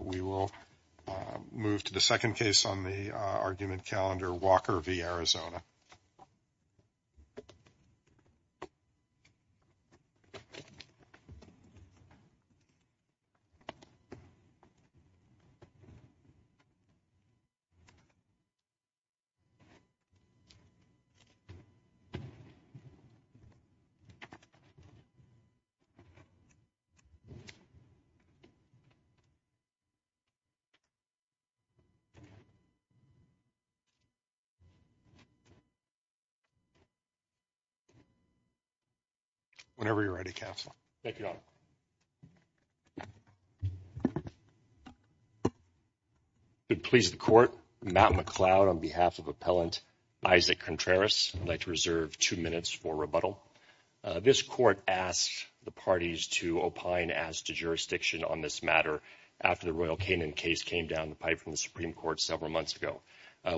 We will move to the second case on the argument calendar, Walker v. Arizona. Whenever you are ready, Counselor. Thank you, Your Honor. I would please the court, Matt McCloud, on behalf of Appellant Isaac Contreras. I'd like to reserve two minutes for rebuttal. This court asked the parties to opine as to jurisdiction on this matter after the Royal Canin case came down the pipe from the Supreme Court several months ago.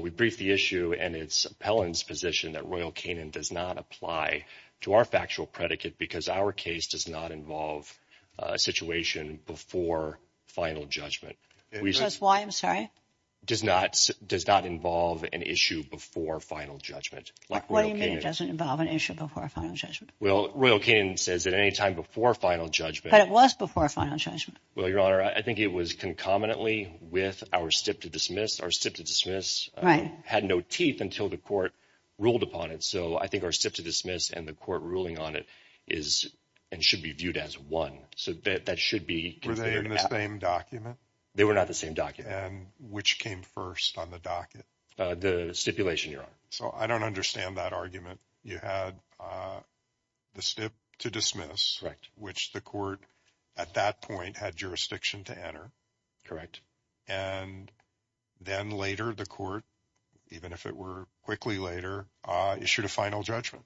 We briefed the issue, and it's Appellant's position that Royal Canin does not apply to our factual predicate because our case does not involve a situation before final judgment. That's why, I'm sorry? Does not involve an issue before final judgment. What do you mean it doesn't involve an issue before final judgment? Well, Royal Canin says at any time before final judgment. But it was before final judgment. Well, Your Honor, I think it was concomitantly with our stip to dismiss. Our stip to dismiss had no teeth until the court ruled upon it. So I think our stip to dismiss and the court ruling on it is and should be viewed as one. So that should be considered. Were they in the same document? They were not the same document. And which came first on the docket? The stipulation, Your Honor. So I don't understand that argument. You had the stip to dismiss, which the court at that point had jurisdiction to enter. And then later the court, even if it were quickly later, issued a final judgment.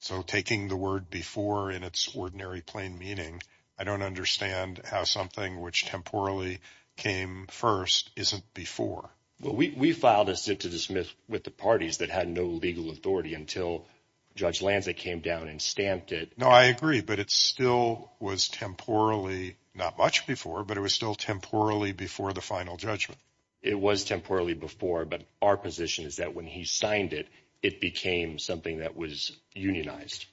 So taking the word before in its ordinary plain meaning, I don't understand how something which temporally came first isn't before. Well, we filed a stip to dismiss with the parties that had no legal authority until Judge Lanza came down and stamped it. No, I agree. But it still was temporally not much before, but it was still temporally before the final judgment. It was temporally before. But our position is that when he signed it, it became something that was unionized.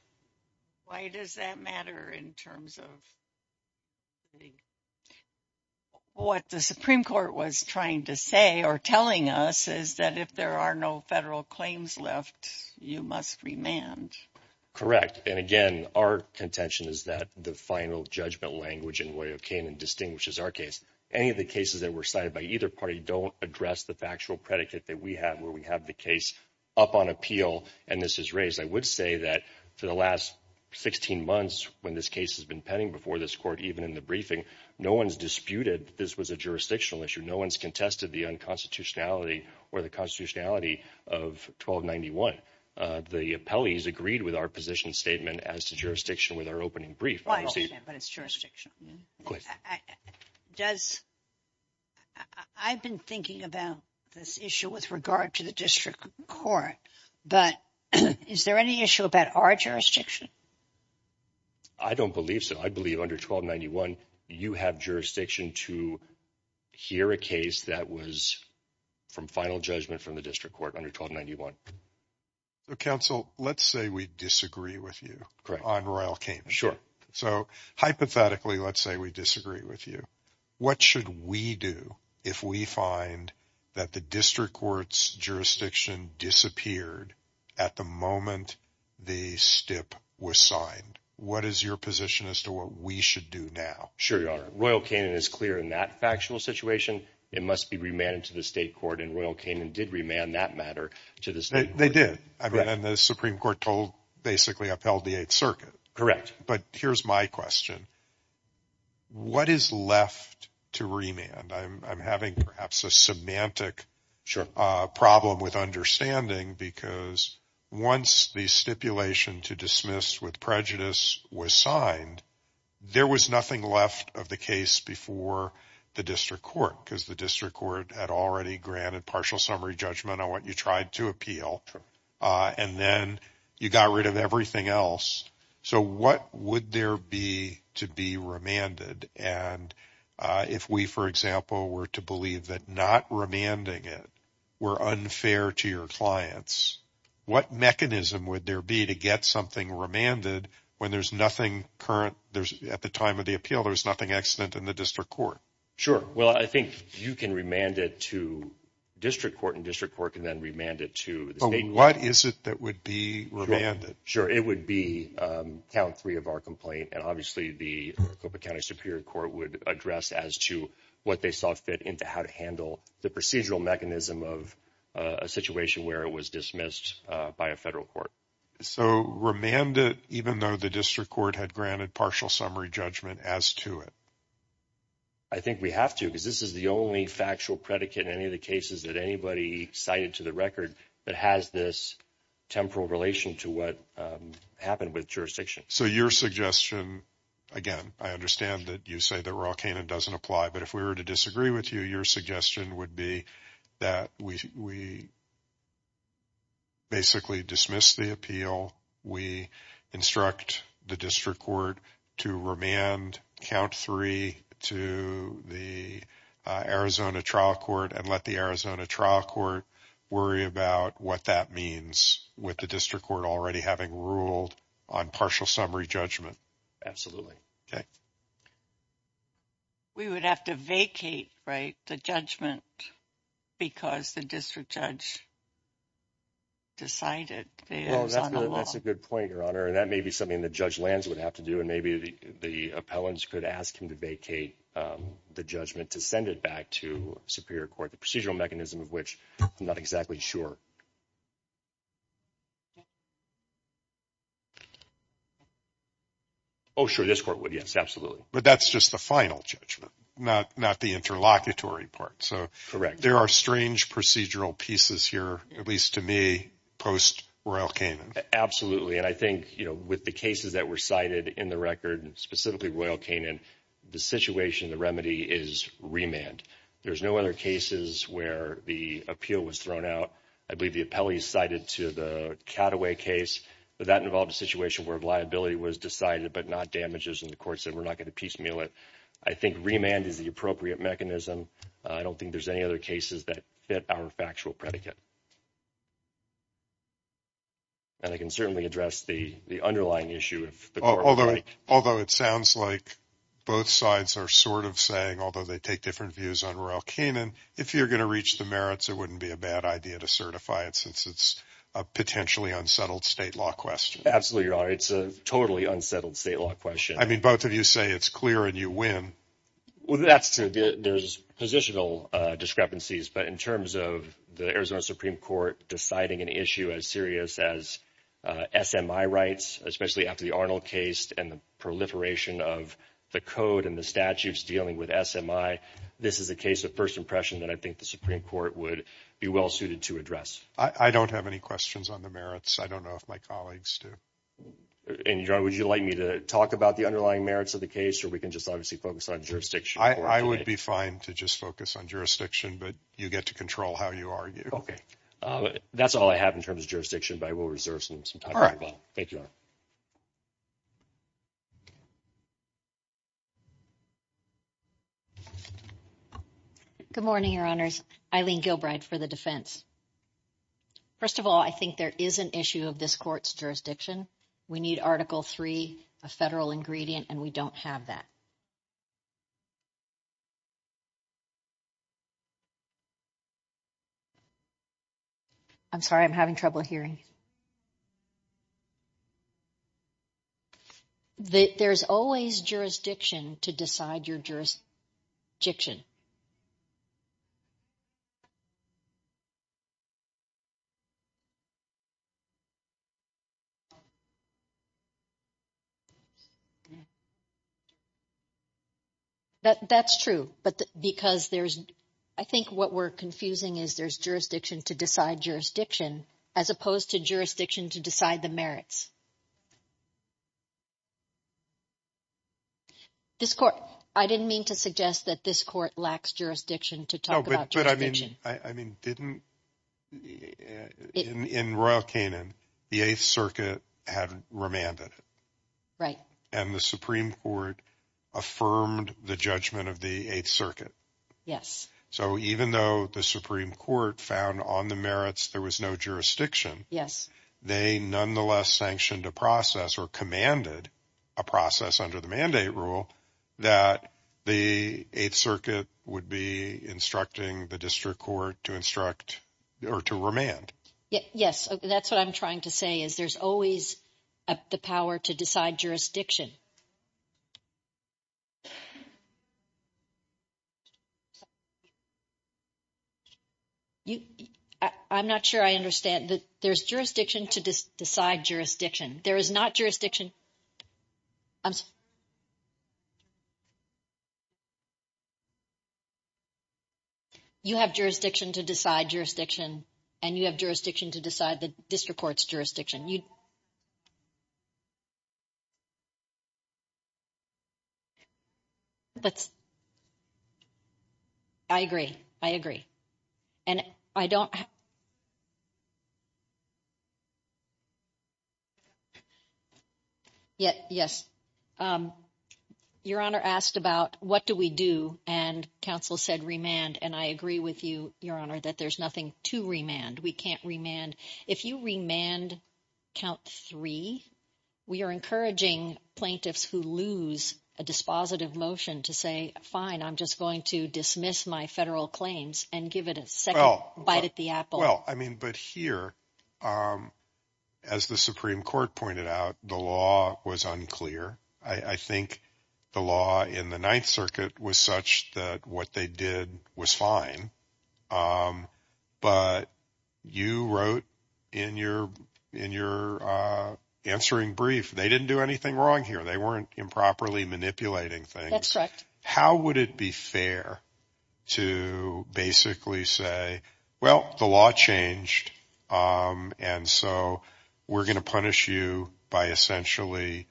Why does that matter in terms of what the Supreme Court was trying to say or telling us is that if there are no federal claims left, you must remand? Correct. And again, our contention is that the final judgment language in way of Canaan distinguishes our case. Any of the cases that were cited by either party don't address the factual predicate that we have where we have the case up on appeal and this is raised. I would say that for the last 16 months, when this case has been pending before this court, even in the briefing, no one's disputed. This was a jurisdictional issue. No one's contested the unconstitutionality or the constitutionality of 1291. The appellees agreed with our position statement as to jurisdiction with our opening brief. But it's jurisdiction. Does. I've been thinking about this issue with regard to the district court, but is there any issue about our jurisdiction? I don't believe so. I believe under 1291, you have jurisdiction to hear a case that was from final judgment from the district court under 1291. Counsel, let's say we disagree with you on Royal Canaan. Sure. So hypothetically, let's say we disagree with you. What should we do if we find that the district court's jurisdiction disappeared at the moment the step was signed? What is your position as to what we should do now? Sure. Royal Canaan is clear in that factual situation. It must be remanded to the state court and Royal Canaan did remand that matter to the state. They did. I mean, the Supreme Court told basically upheld the Eighth Circuit. Correct. But here's my question. What is left to remand? I'm having perhaps a semantic problem with understanding because once the stipulation to dismiss with prejudice was signed, there was nothing left of the case before the district court because the district court had already granted partial summary judgment on what you tried to appeal. And then you got rid of everything else. So what would there be to be remanded? And if we, for example, were to believe that not remanding it were unfair to your clients, what mechanism would there be to get something remanded when there's nothing current? There's at the time of the appeal, there's nothing extant in the district court. Sure. Well, I think you can remand it to district court and district court can then remand it to the state. What is it that would be remanded? Sure. It would be count three of our complaint. And obviously the county superior court would address as to what they saw fit into how to handle the procedural mechanism of a situation where it was dismissed by a federal court. So remanded, even though the district court had granted partial summary judgment as to it. I think we have to because this is the only factual predicate in any of the cases that anybody cited to the record that has this temporal relation to what happened with jurisdiction. So your suggestion, again, I understand that you say that we're all can and doesn't apply. But if we were to disagree with you, your suggestion would be that we basically dismiss the appeal. We instruct the district court to remand count three to the Arizona trial court and let the Arizona trial court worry about what that means with the district court already having ruled on partial summary judgment. Absolutely. We would have to vacate the judgment because the district judge decided. That's a good point, Your Honor. And that may be something the judge lands would have to do. And maybe the appellants could ask him to vacate the judgment to send it back to superior court. The procedural mechanism of which I'm not exactly sure. Oh, sure, this court would. Yes, absolutely. But that's just the final judgment, not not the interlocutory part. So correct. There are strange procedural pieces here, at least to me. Absolutely. And I think, you know, with the cases that were cited in the record, specifically Royal Canaan, the situation, the remedy is remand. There's no other cases where the appeal was thrown out. I believe the appellees cited to the Cattaway case. But that involved a situation where liability was decided, but not damages. And the court said, we're not going to piecemeal it. I think remand is the appropriate mechanism. I don't think there's any other cases that fit our factual predicate. And I can certainly address the underlying issue. Although although it sounds like both sides are sort of saying, although they take different views on Royal Canaan, if you're going to reach the merits, it wouldn't be a bad idea to certify it since it's a potentially unsettled state law question. Absolutely, Your Honor. It's a totally unsettled state law question. I mean, both of you say it's clear and you win. Well, that's true. There's positional discrepancies. But in terms of the Arizona Supreme Court deciding an issue as serious as SMI rights, especially after the Arnold case and the proliferation of the code and the statutes dealing with SMI. This is a case of first impression that I think the Supreme Court would be well suited to address. I don't have any questions on the merits. I don't know if my colleagues do. And would you like me to talk about the underlying merits of the case or we can just obviously focus on jurisdiction? I would be fine to just focus on jurisdiction, but you get to control how you argue. OK, that's all I have in terms of jurisdiction, but I will reserve some time. Thank you. Good morning, Your Honors. Eileen Gilbride for the defense. First of all, I think there is an issue of this court's jurisdiction. We need Article 3, a federal ingredient, and we don't have that. I'm sorry, I'm having trouble hearing. There's always jurisdiction to decide your jurisdiction. That's true, but because there's, I think what we're confusing is there's jurisdiction to decide jurisdiction, as opposed to jurisdiction to decide the merits. This court, I didn't mean to suggest that this court lacks jurisdiction to talk about. But I mean, I mean, didn't in Royal Canaan, the 8th Circuit had remanded. Right. And the Supreme Court affirmed the judgment of the 8th Circuit. Yes. So even though the Supreme Court found on the merits there was no jurisdiction. Yes. They nonetheless sanctioned a process or commanded a process under the mandate rule that the 8th Circuit would be instructing the district court to instruct or to remand. Yes, that's what I'm trying to say is there's always the power to decide jurisdiction. I'm not sure I understand that there's jurisdiction to decide jurisdiction. There is not jurisdiction. You have jurisdiction to decide jurisdiction, and you have jurisdiction to decide the district court's jurisdiction. You. That's. I agree. I agree. And I don't. Yet, yes, Your Honor asked about what do we do? And counsel said remand and I agree with you, Your Honor, that there's nothing to remand. We can't remand. If you remand count three, we are encouraging plaintiffs who lose a dispositive motion to say, fine, I'm just going to dismiss my federal claims and give it a second bite at the apple. Well, I mean, but here, as the Supreme Court pointed out, the law was unclear. I think the law in the 9th Circuit was such that what they did was fine. But you wrote in your in your answering brief, they didn't do anything wrong here. They weren't improperly manipulating things. How would it be fair to basically say, well, the law changed. And so we're going to punish you by essentially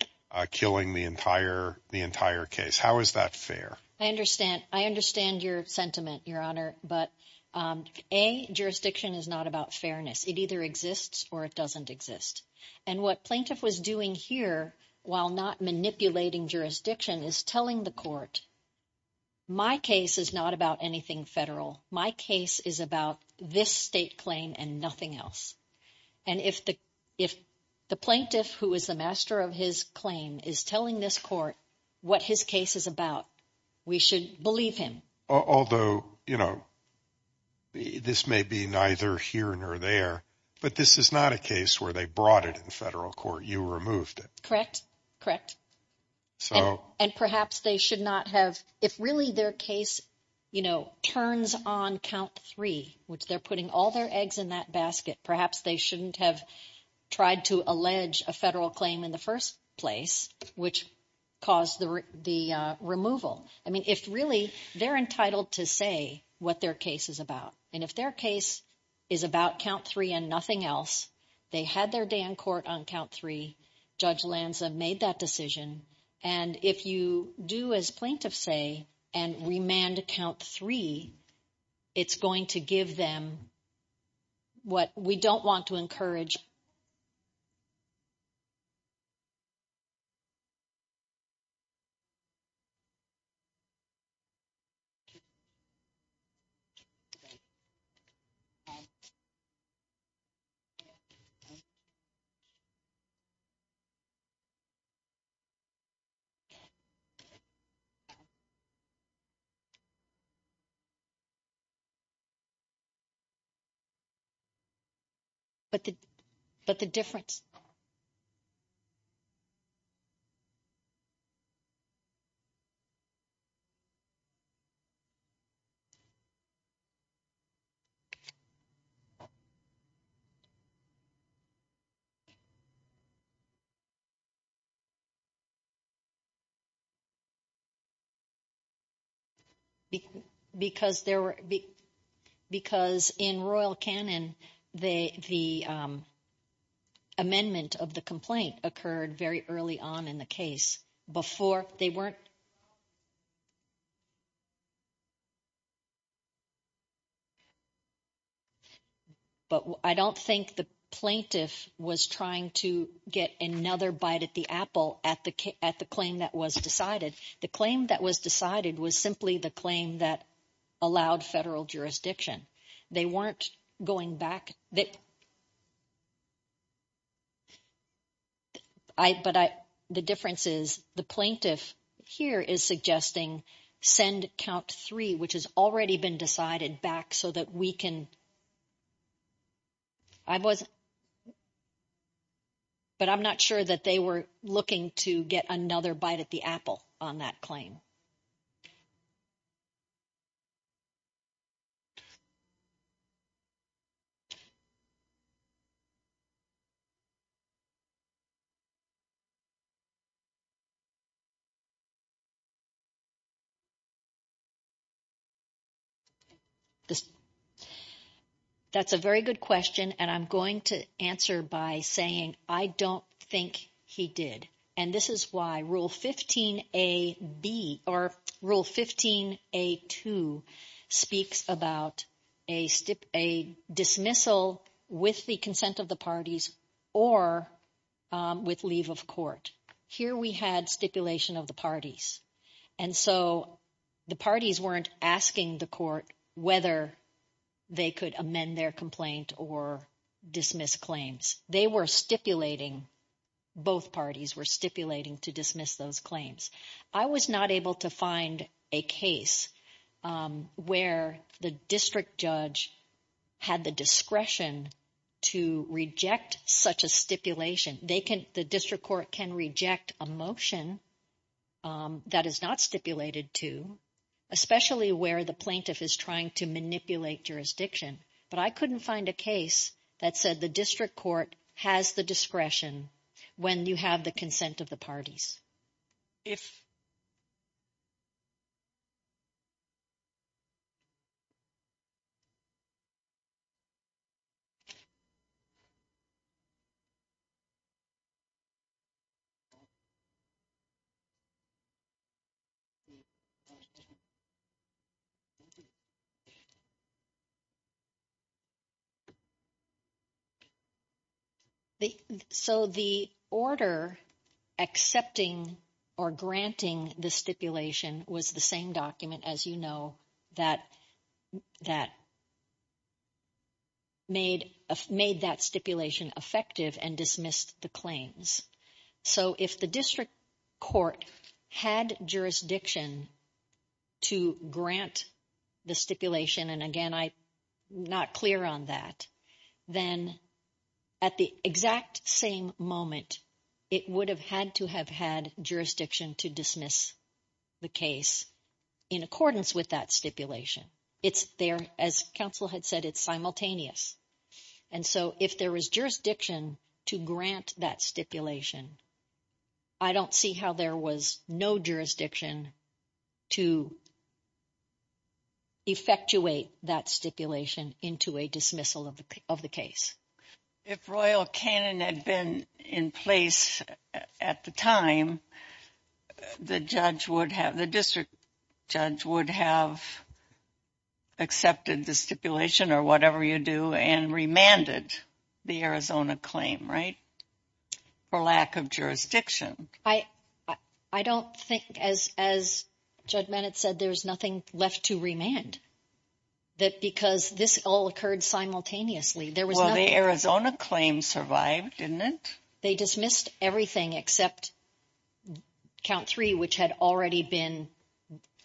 killing the entire the entire case. How is that fair? I understand. I understand your sentiment, Your Honor. But a jurisdiction is not about fairness. It either exists or it doesn't exist. And what plaintiff was doing here while not manipulating jurisdiction is telling the court. My case is not about anything federal. My case is about this state claim and nothing else. And if the if the plaintiff who is the master of his claim is telling this court what his case is about, we should believe him. Although, you know. This may be neither here nor there, but this is not a case where they brought it in federal court. You removed it. Correct. Correct. So and perhaps they should not have. If really their case, you know, turns on count three, which they're putting all their eggs in that basket. Perhaps they shouldn't have tried to allege a federal claim in the first place, which caused the removal. I mean, if really they're entitled to say what their case is about and if their case is about count three and nothing else, they had their day in court on count three. Judge Lanza made that decision. And if you do, as plaintiffs say, and remand count three, it's going to give them. What we don't want to encourage. But the but the difference. Because there were because in royal canon, the, the. Amendment of the complaint occurred very early on in the case before they weren't. But I don't think the plaintiff was trying to get another bite at the apple at the at the claim that was decided. The claim that was decided was simply the claim that allowed federal jurisdiction. They weren't going back that. But the difference is the plaintiff here is suggesting send count three, which has already been decided back so that we can. I was. But I'm not sure that they were looking to get another bite at the apple on that claim. That's a very good question. And I'm going to answer by saying, I don't think he did. And this is why rule 15, a B or rule 15, a two speaks about a, a dismissal with the consent of the parties or with leave of court here. We had stipulation of the parties. And so the parties weren't asking the court whether they could amend their complaint or dismiss claims. They were stipulating. Both parties were stipulating to dismiss those claims. I was not able to find a case where the district judge had the discretion to reject such a stipulation. They can the district court can reject a motion that is not stipulated to especially where the plaintiff is trying to manipulate jurisdiction. But I couldn't find a case that said the district court has the discretion when you have the consent of the parties. If. Okay. So, the order. Accepting or granting the stipulation was the same document as, you know, that. That. Made made that stipulation effective and dismissed the claims. So, if the district court had jurisdiction. To grant the stipulation and again, I. Not clear on that, then. At the exact same moment, it would have had to have had jurisdiction to dismiss. The case in accordance with that stipulation. It's there as counsel had said, it's simultaneous. And so, if there was jurisdiction to grant that stipulation. I don't see how there was no jurisdiction. To. Effectuate that stipulation into a dismissal of the of the case. If Royal cannon had been in place at the time. The judge would have the district judge would have. Accepted the stipulation or whatever you do and remanded. The Arizona claim, right? For lack of jurisdiction, I. I don't think as as judge Bennett said, there's nothing left to remand. That because this all occurred simultaneously, there was the Arizona claim survived didn't they dismissed everything except. Count 3, which had already been.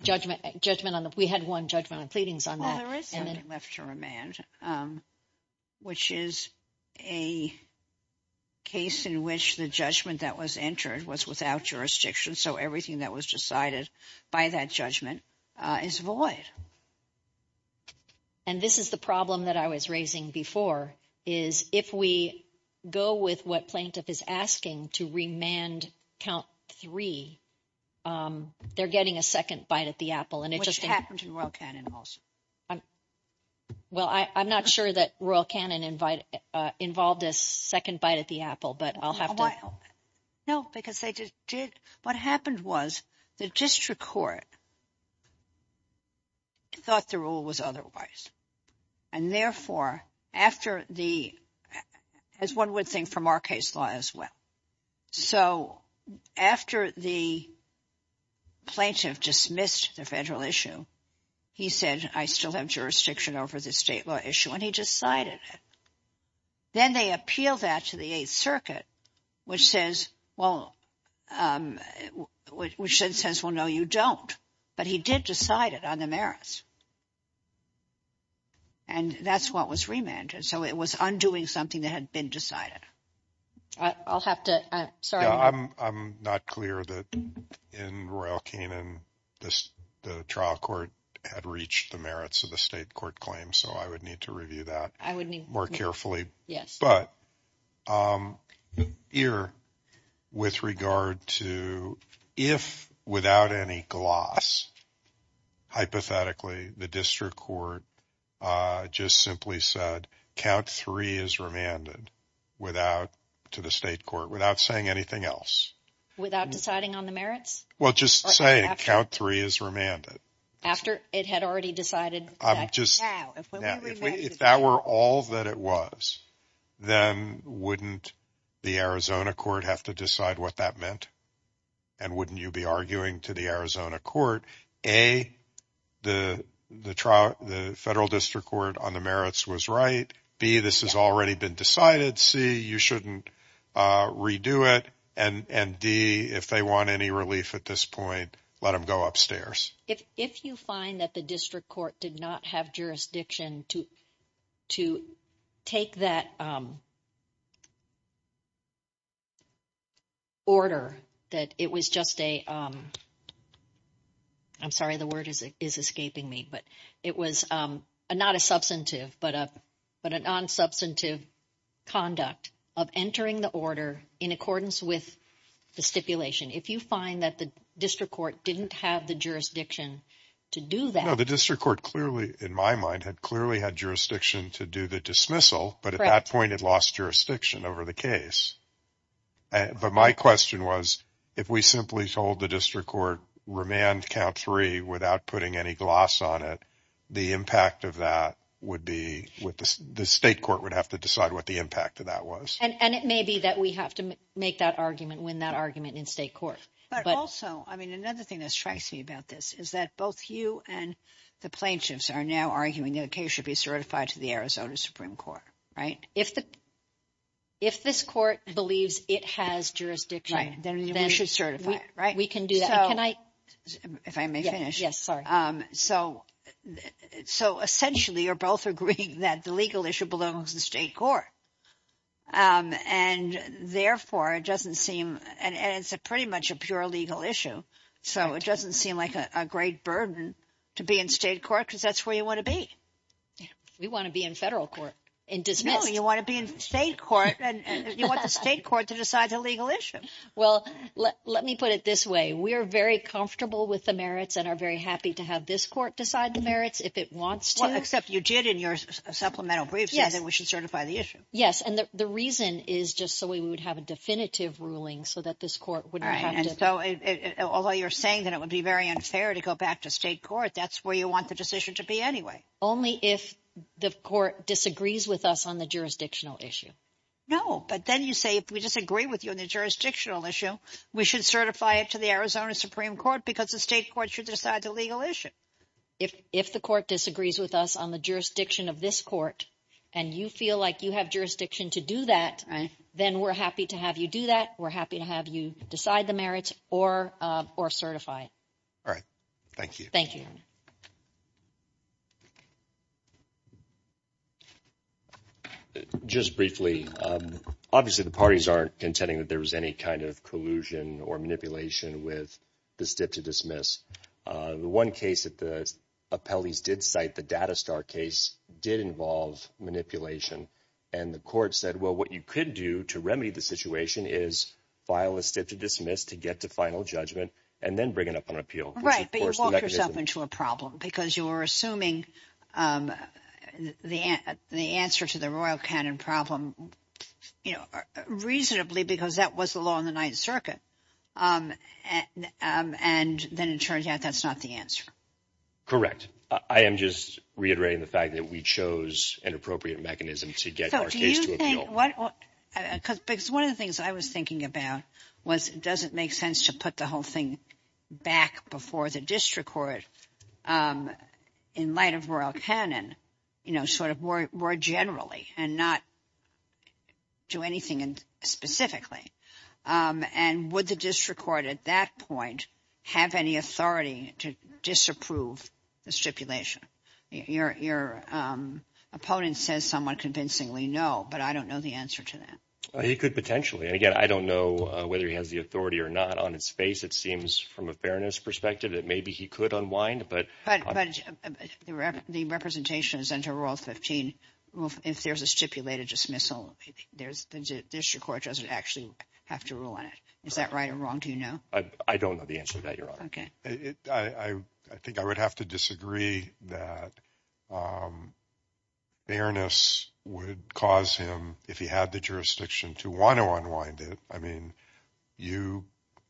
Judgment judgment on the we had 1 judgment of pleadings on there is something left to remand. Which is a case in which the judgment that was entered was without jurisdiction. So, everything that was decided by that judgment is void. And this is the problem that I was raising before is if we go with what plaintiff is asking to remand count 3. They're getting a 2nd bite at the apple and it just happened to. Royal cannon also. Well, I, I'm not sure that Royal cannon invite involved a 2nd bite at the apple, but I'll have to. No, because they just did what happened was the district court. Thought the rule was otherwise. And therefore, after the as 1 would think from our case law as well. So, after the. Plaintiff dismissed the federal issue. He said, I still have jurisdiction over the state law issue, and he decided it. Then they appeal that to the 8th circuit, which says, well, which says, well, no, you don't. But he did decide it on the merits. And that's what was remanded. So, it was undoing something that had been decided. I'll have to. I'm sorry. I'm not clear that in Royal cannon. The trial court had reached the merits of the state court claim. So, I would need to review that. I would need more carefully. Yes. But. Here. With regard to if without any gloss. Hypothetically, the district court. Just simply said, count 3 is remanded. Without to the state court, without saying anything else. Without deciding on the merits. Well, just say count 3 is remanded. After it had already decided. I'm just. If that were all that it was. Then wouldn't. The Arizona court have to decide what that meant. And wouldn't you be arguing to the Arizona court? A, the federal district court on the merits was right. B, this has already been decided. C, you shouldn't redo it. And D, if they want any relief at this point. Let them go upstairs. If you find that the district court did not have jurisdiction to. To take that. Order that it was just a. I'm sorry, the word is escaping me. But it was not a substantive, but a. But a non-substantive. Conduct of entering the order in accordance with. The stipulation. If you find that the district court didn't have the jurisdiction. To do that. The district court clearly, in my mind, had clearly had jurisdiction to do the dismissal. But at that point, it lost jurisdiction over the case. But my question was. If we simply told the district court remand count three without putting any gloss on it. The impact of that would be with the state court would have to decide what the impact of that was. And it may be that we have to make that argument when that argument in state court. But also, I mean, another thing that strikes me about this is that both you and. The plaintiffs are now arguing that the case should be certified to the Arizona Supreme Court. Right. If the. If this court believes it has jurisdiction. You should certify it. We can do that. Can I. If I may finish. Yes. Sorry. So essentially, you're both agreeing that the legal issue belongs in state court. And therefore, it doesn't seem. And it's a pretty much a pure legal issue. So it doesn't seem like a great burden to be in state court because that's where you want to be. We want to be in federal court. In dismissal. You want to be in state court and you want the state court to decide the legal issue. Well, let me put it this way. We are very comfortable with the merits and are very happy to have this court decide the merits if it wants to. Except you did in your supplemental brief. Yes. That we should certify the issue. Yes. And the reason is just so we would have a definitive ruling so that this court would. And so although you're saying that it would be very unfair to go back to state court, that's where you want the decision to be anyway. Only if the court disagrees with us on the jurisdictional issue. No, but then you say if we disagree with you in the jurisdictional issue, we should certify it to the Arizona Supreme Court because the state court should decide the legal issue. If if the court disagrees with us on the jurisdiction of this court and you feel like you have jurisdiction to do that, then we're happy to have you do that. We're happy to have you decide the merits or or certify. All right. Thank you. Just briefly, obviously, the parties aren't contending that there was any kind of collusion or manipulation with the stiff to dismiss the one case that the appellees did cite. The data star case did involve manipulation and the court said, well, what you could do to remedy the situation is file a stiff to dismiss to get to final judgment and then bring it up on appeal. Right. But you walk yourself into a problem because you are assuming the the answer to the Royal Canon problem, you know, reasonably because that was the law in the Ninth Circuit. And then it turns out that's not the answer. Correct. I am just reiterating the fact that we chose an appropriate mechanism to get our case to appeal. Because one of the things I was thinking about was it doesn't make sense to put the whole thing back before the district court in light of Royal Canon, you know, sort of more generally and not do anything specifically. And would the district court at that point have any authority to disapprove the stipulation? Your opponent says somewhat convincingly, no, but I don't know the answer to that. He could potentially. And again, I don't know whether he has the authority or not on its face. It seems from a fairness perspective that maybe he could unwind. But the representation is under Royal 15. If there's a stipulated dismissal, there's the district court doesn't actually have to rule on it. Is that right or wrong? Do you know? I don't know the answer to that, Your Honor. OK, I think I would have to disagree that. Fairness would cause him if he had the jurisdiction to want to unwind it. I mean, you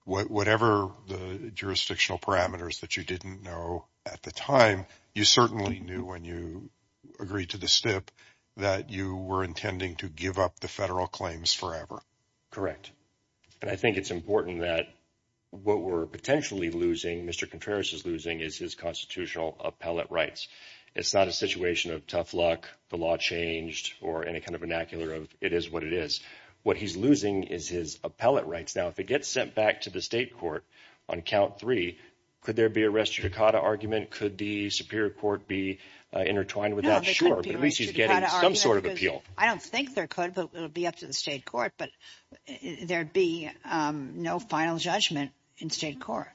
whatever the jurisdictional parameters that you didn't know at the time, you certainly knew when you agreed to the step that you were intending to give up the federal claims forever. Correct. And I think it's important that what we're potentially losing, Mr. Contreras, is losing is his constitutional appellate rights. It's not a situation of tough luck. The law changed or any kind of vernacular of it is what it is. What he's losing is his appellate rights. Now, if it gets sent back to the state court on count three, could there be a restrictive argument? Could the Superior Court be intertwined with that? Sure. But at least he's getting some sort of appeal. I don't think there could be up to the state court, but there'd be no final judgment in state court.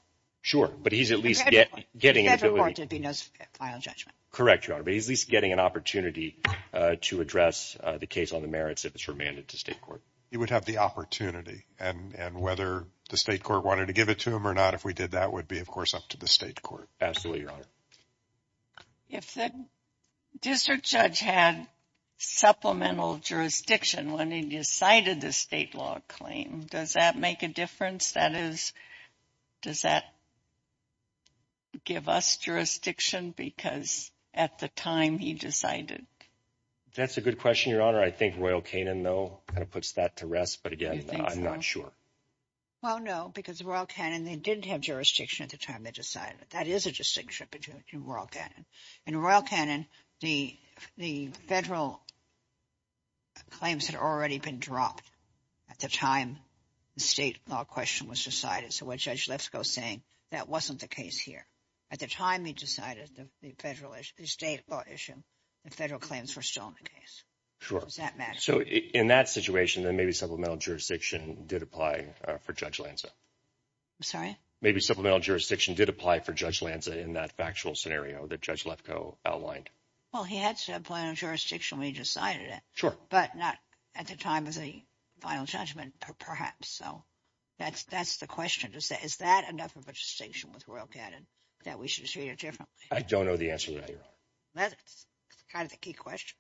Sure. But he's at least get getting into the final judgment. Correct. But he's at least getting an opportunity to address the case on the merits. If it's remanded to state court, you would have the opportunity. And whether the state court wanted to give it to him or not, if we did, that would be, of course, up to the state court. Absolutely, Your Honor. If the district judge had supplemental jurisdiction when he decided the state law claim, does that make a difference? That is, does that give us jurisdiction because at the time he decided? That's a good question, Your Honor. I think Royal Canin, though, kind of puts that to rest. But again, I'm not sure. Well, no, because Royal Canin, they didn't have jurisdiction at the time they decided. That is a distinction between Royal Canin. In Royal Canin, the federal claims had already been dropped at the time the state law question was decided. So what Judge Lefkoe is saying, that wasn't the case here. At the time he decided the federal issue, the state law issue, the federal claims were still in the case. Does that matter? So in that situation, then maybe supplemental jurisdiction did apply for Judge Lanza. Maybe supplemental jurisdiction did apply for Judge Lanza in that factual scenario that Judge Lefkoe outlined. Well, he had supplemental jurisdiction when he decided it. Sure. But not at the time of the final judgment, perhaps. So that's the question. Is that enough of a distinction with Royal Canin that we should treat it differently? I don't know the answer to that, Your Honor. That's kind of the key question.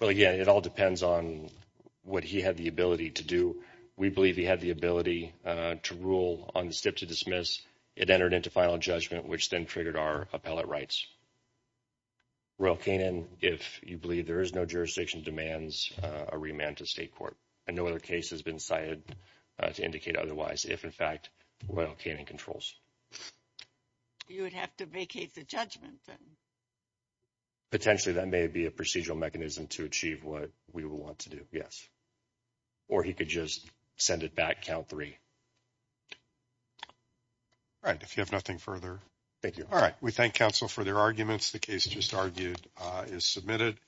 Well, again, it all depends on what he had the ability to do. We believe he had the ability to rule on the step to dismiss. It entered into final judgment, which then triggered our appellate rights. Royal Canin, if you believe there is no jurisdiction, demands a remand to state court. And no other case has been cited to indicate otherwise, if, in fact, Royal Canin controls. You would have to vacate the judgment, then. Potentially, that may be a procedural mechanism to achieve what we would want to do. Or he could just send it back. Count three. All right. If you have nothing further. Thank you. All right. We thank counsel for their arguments. The case just argued is submitted.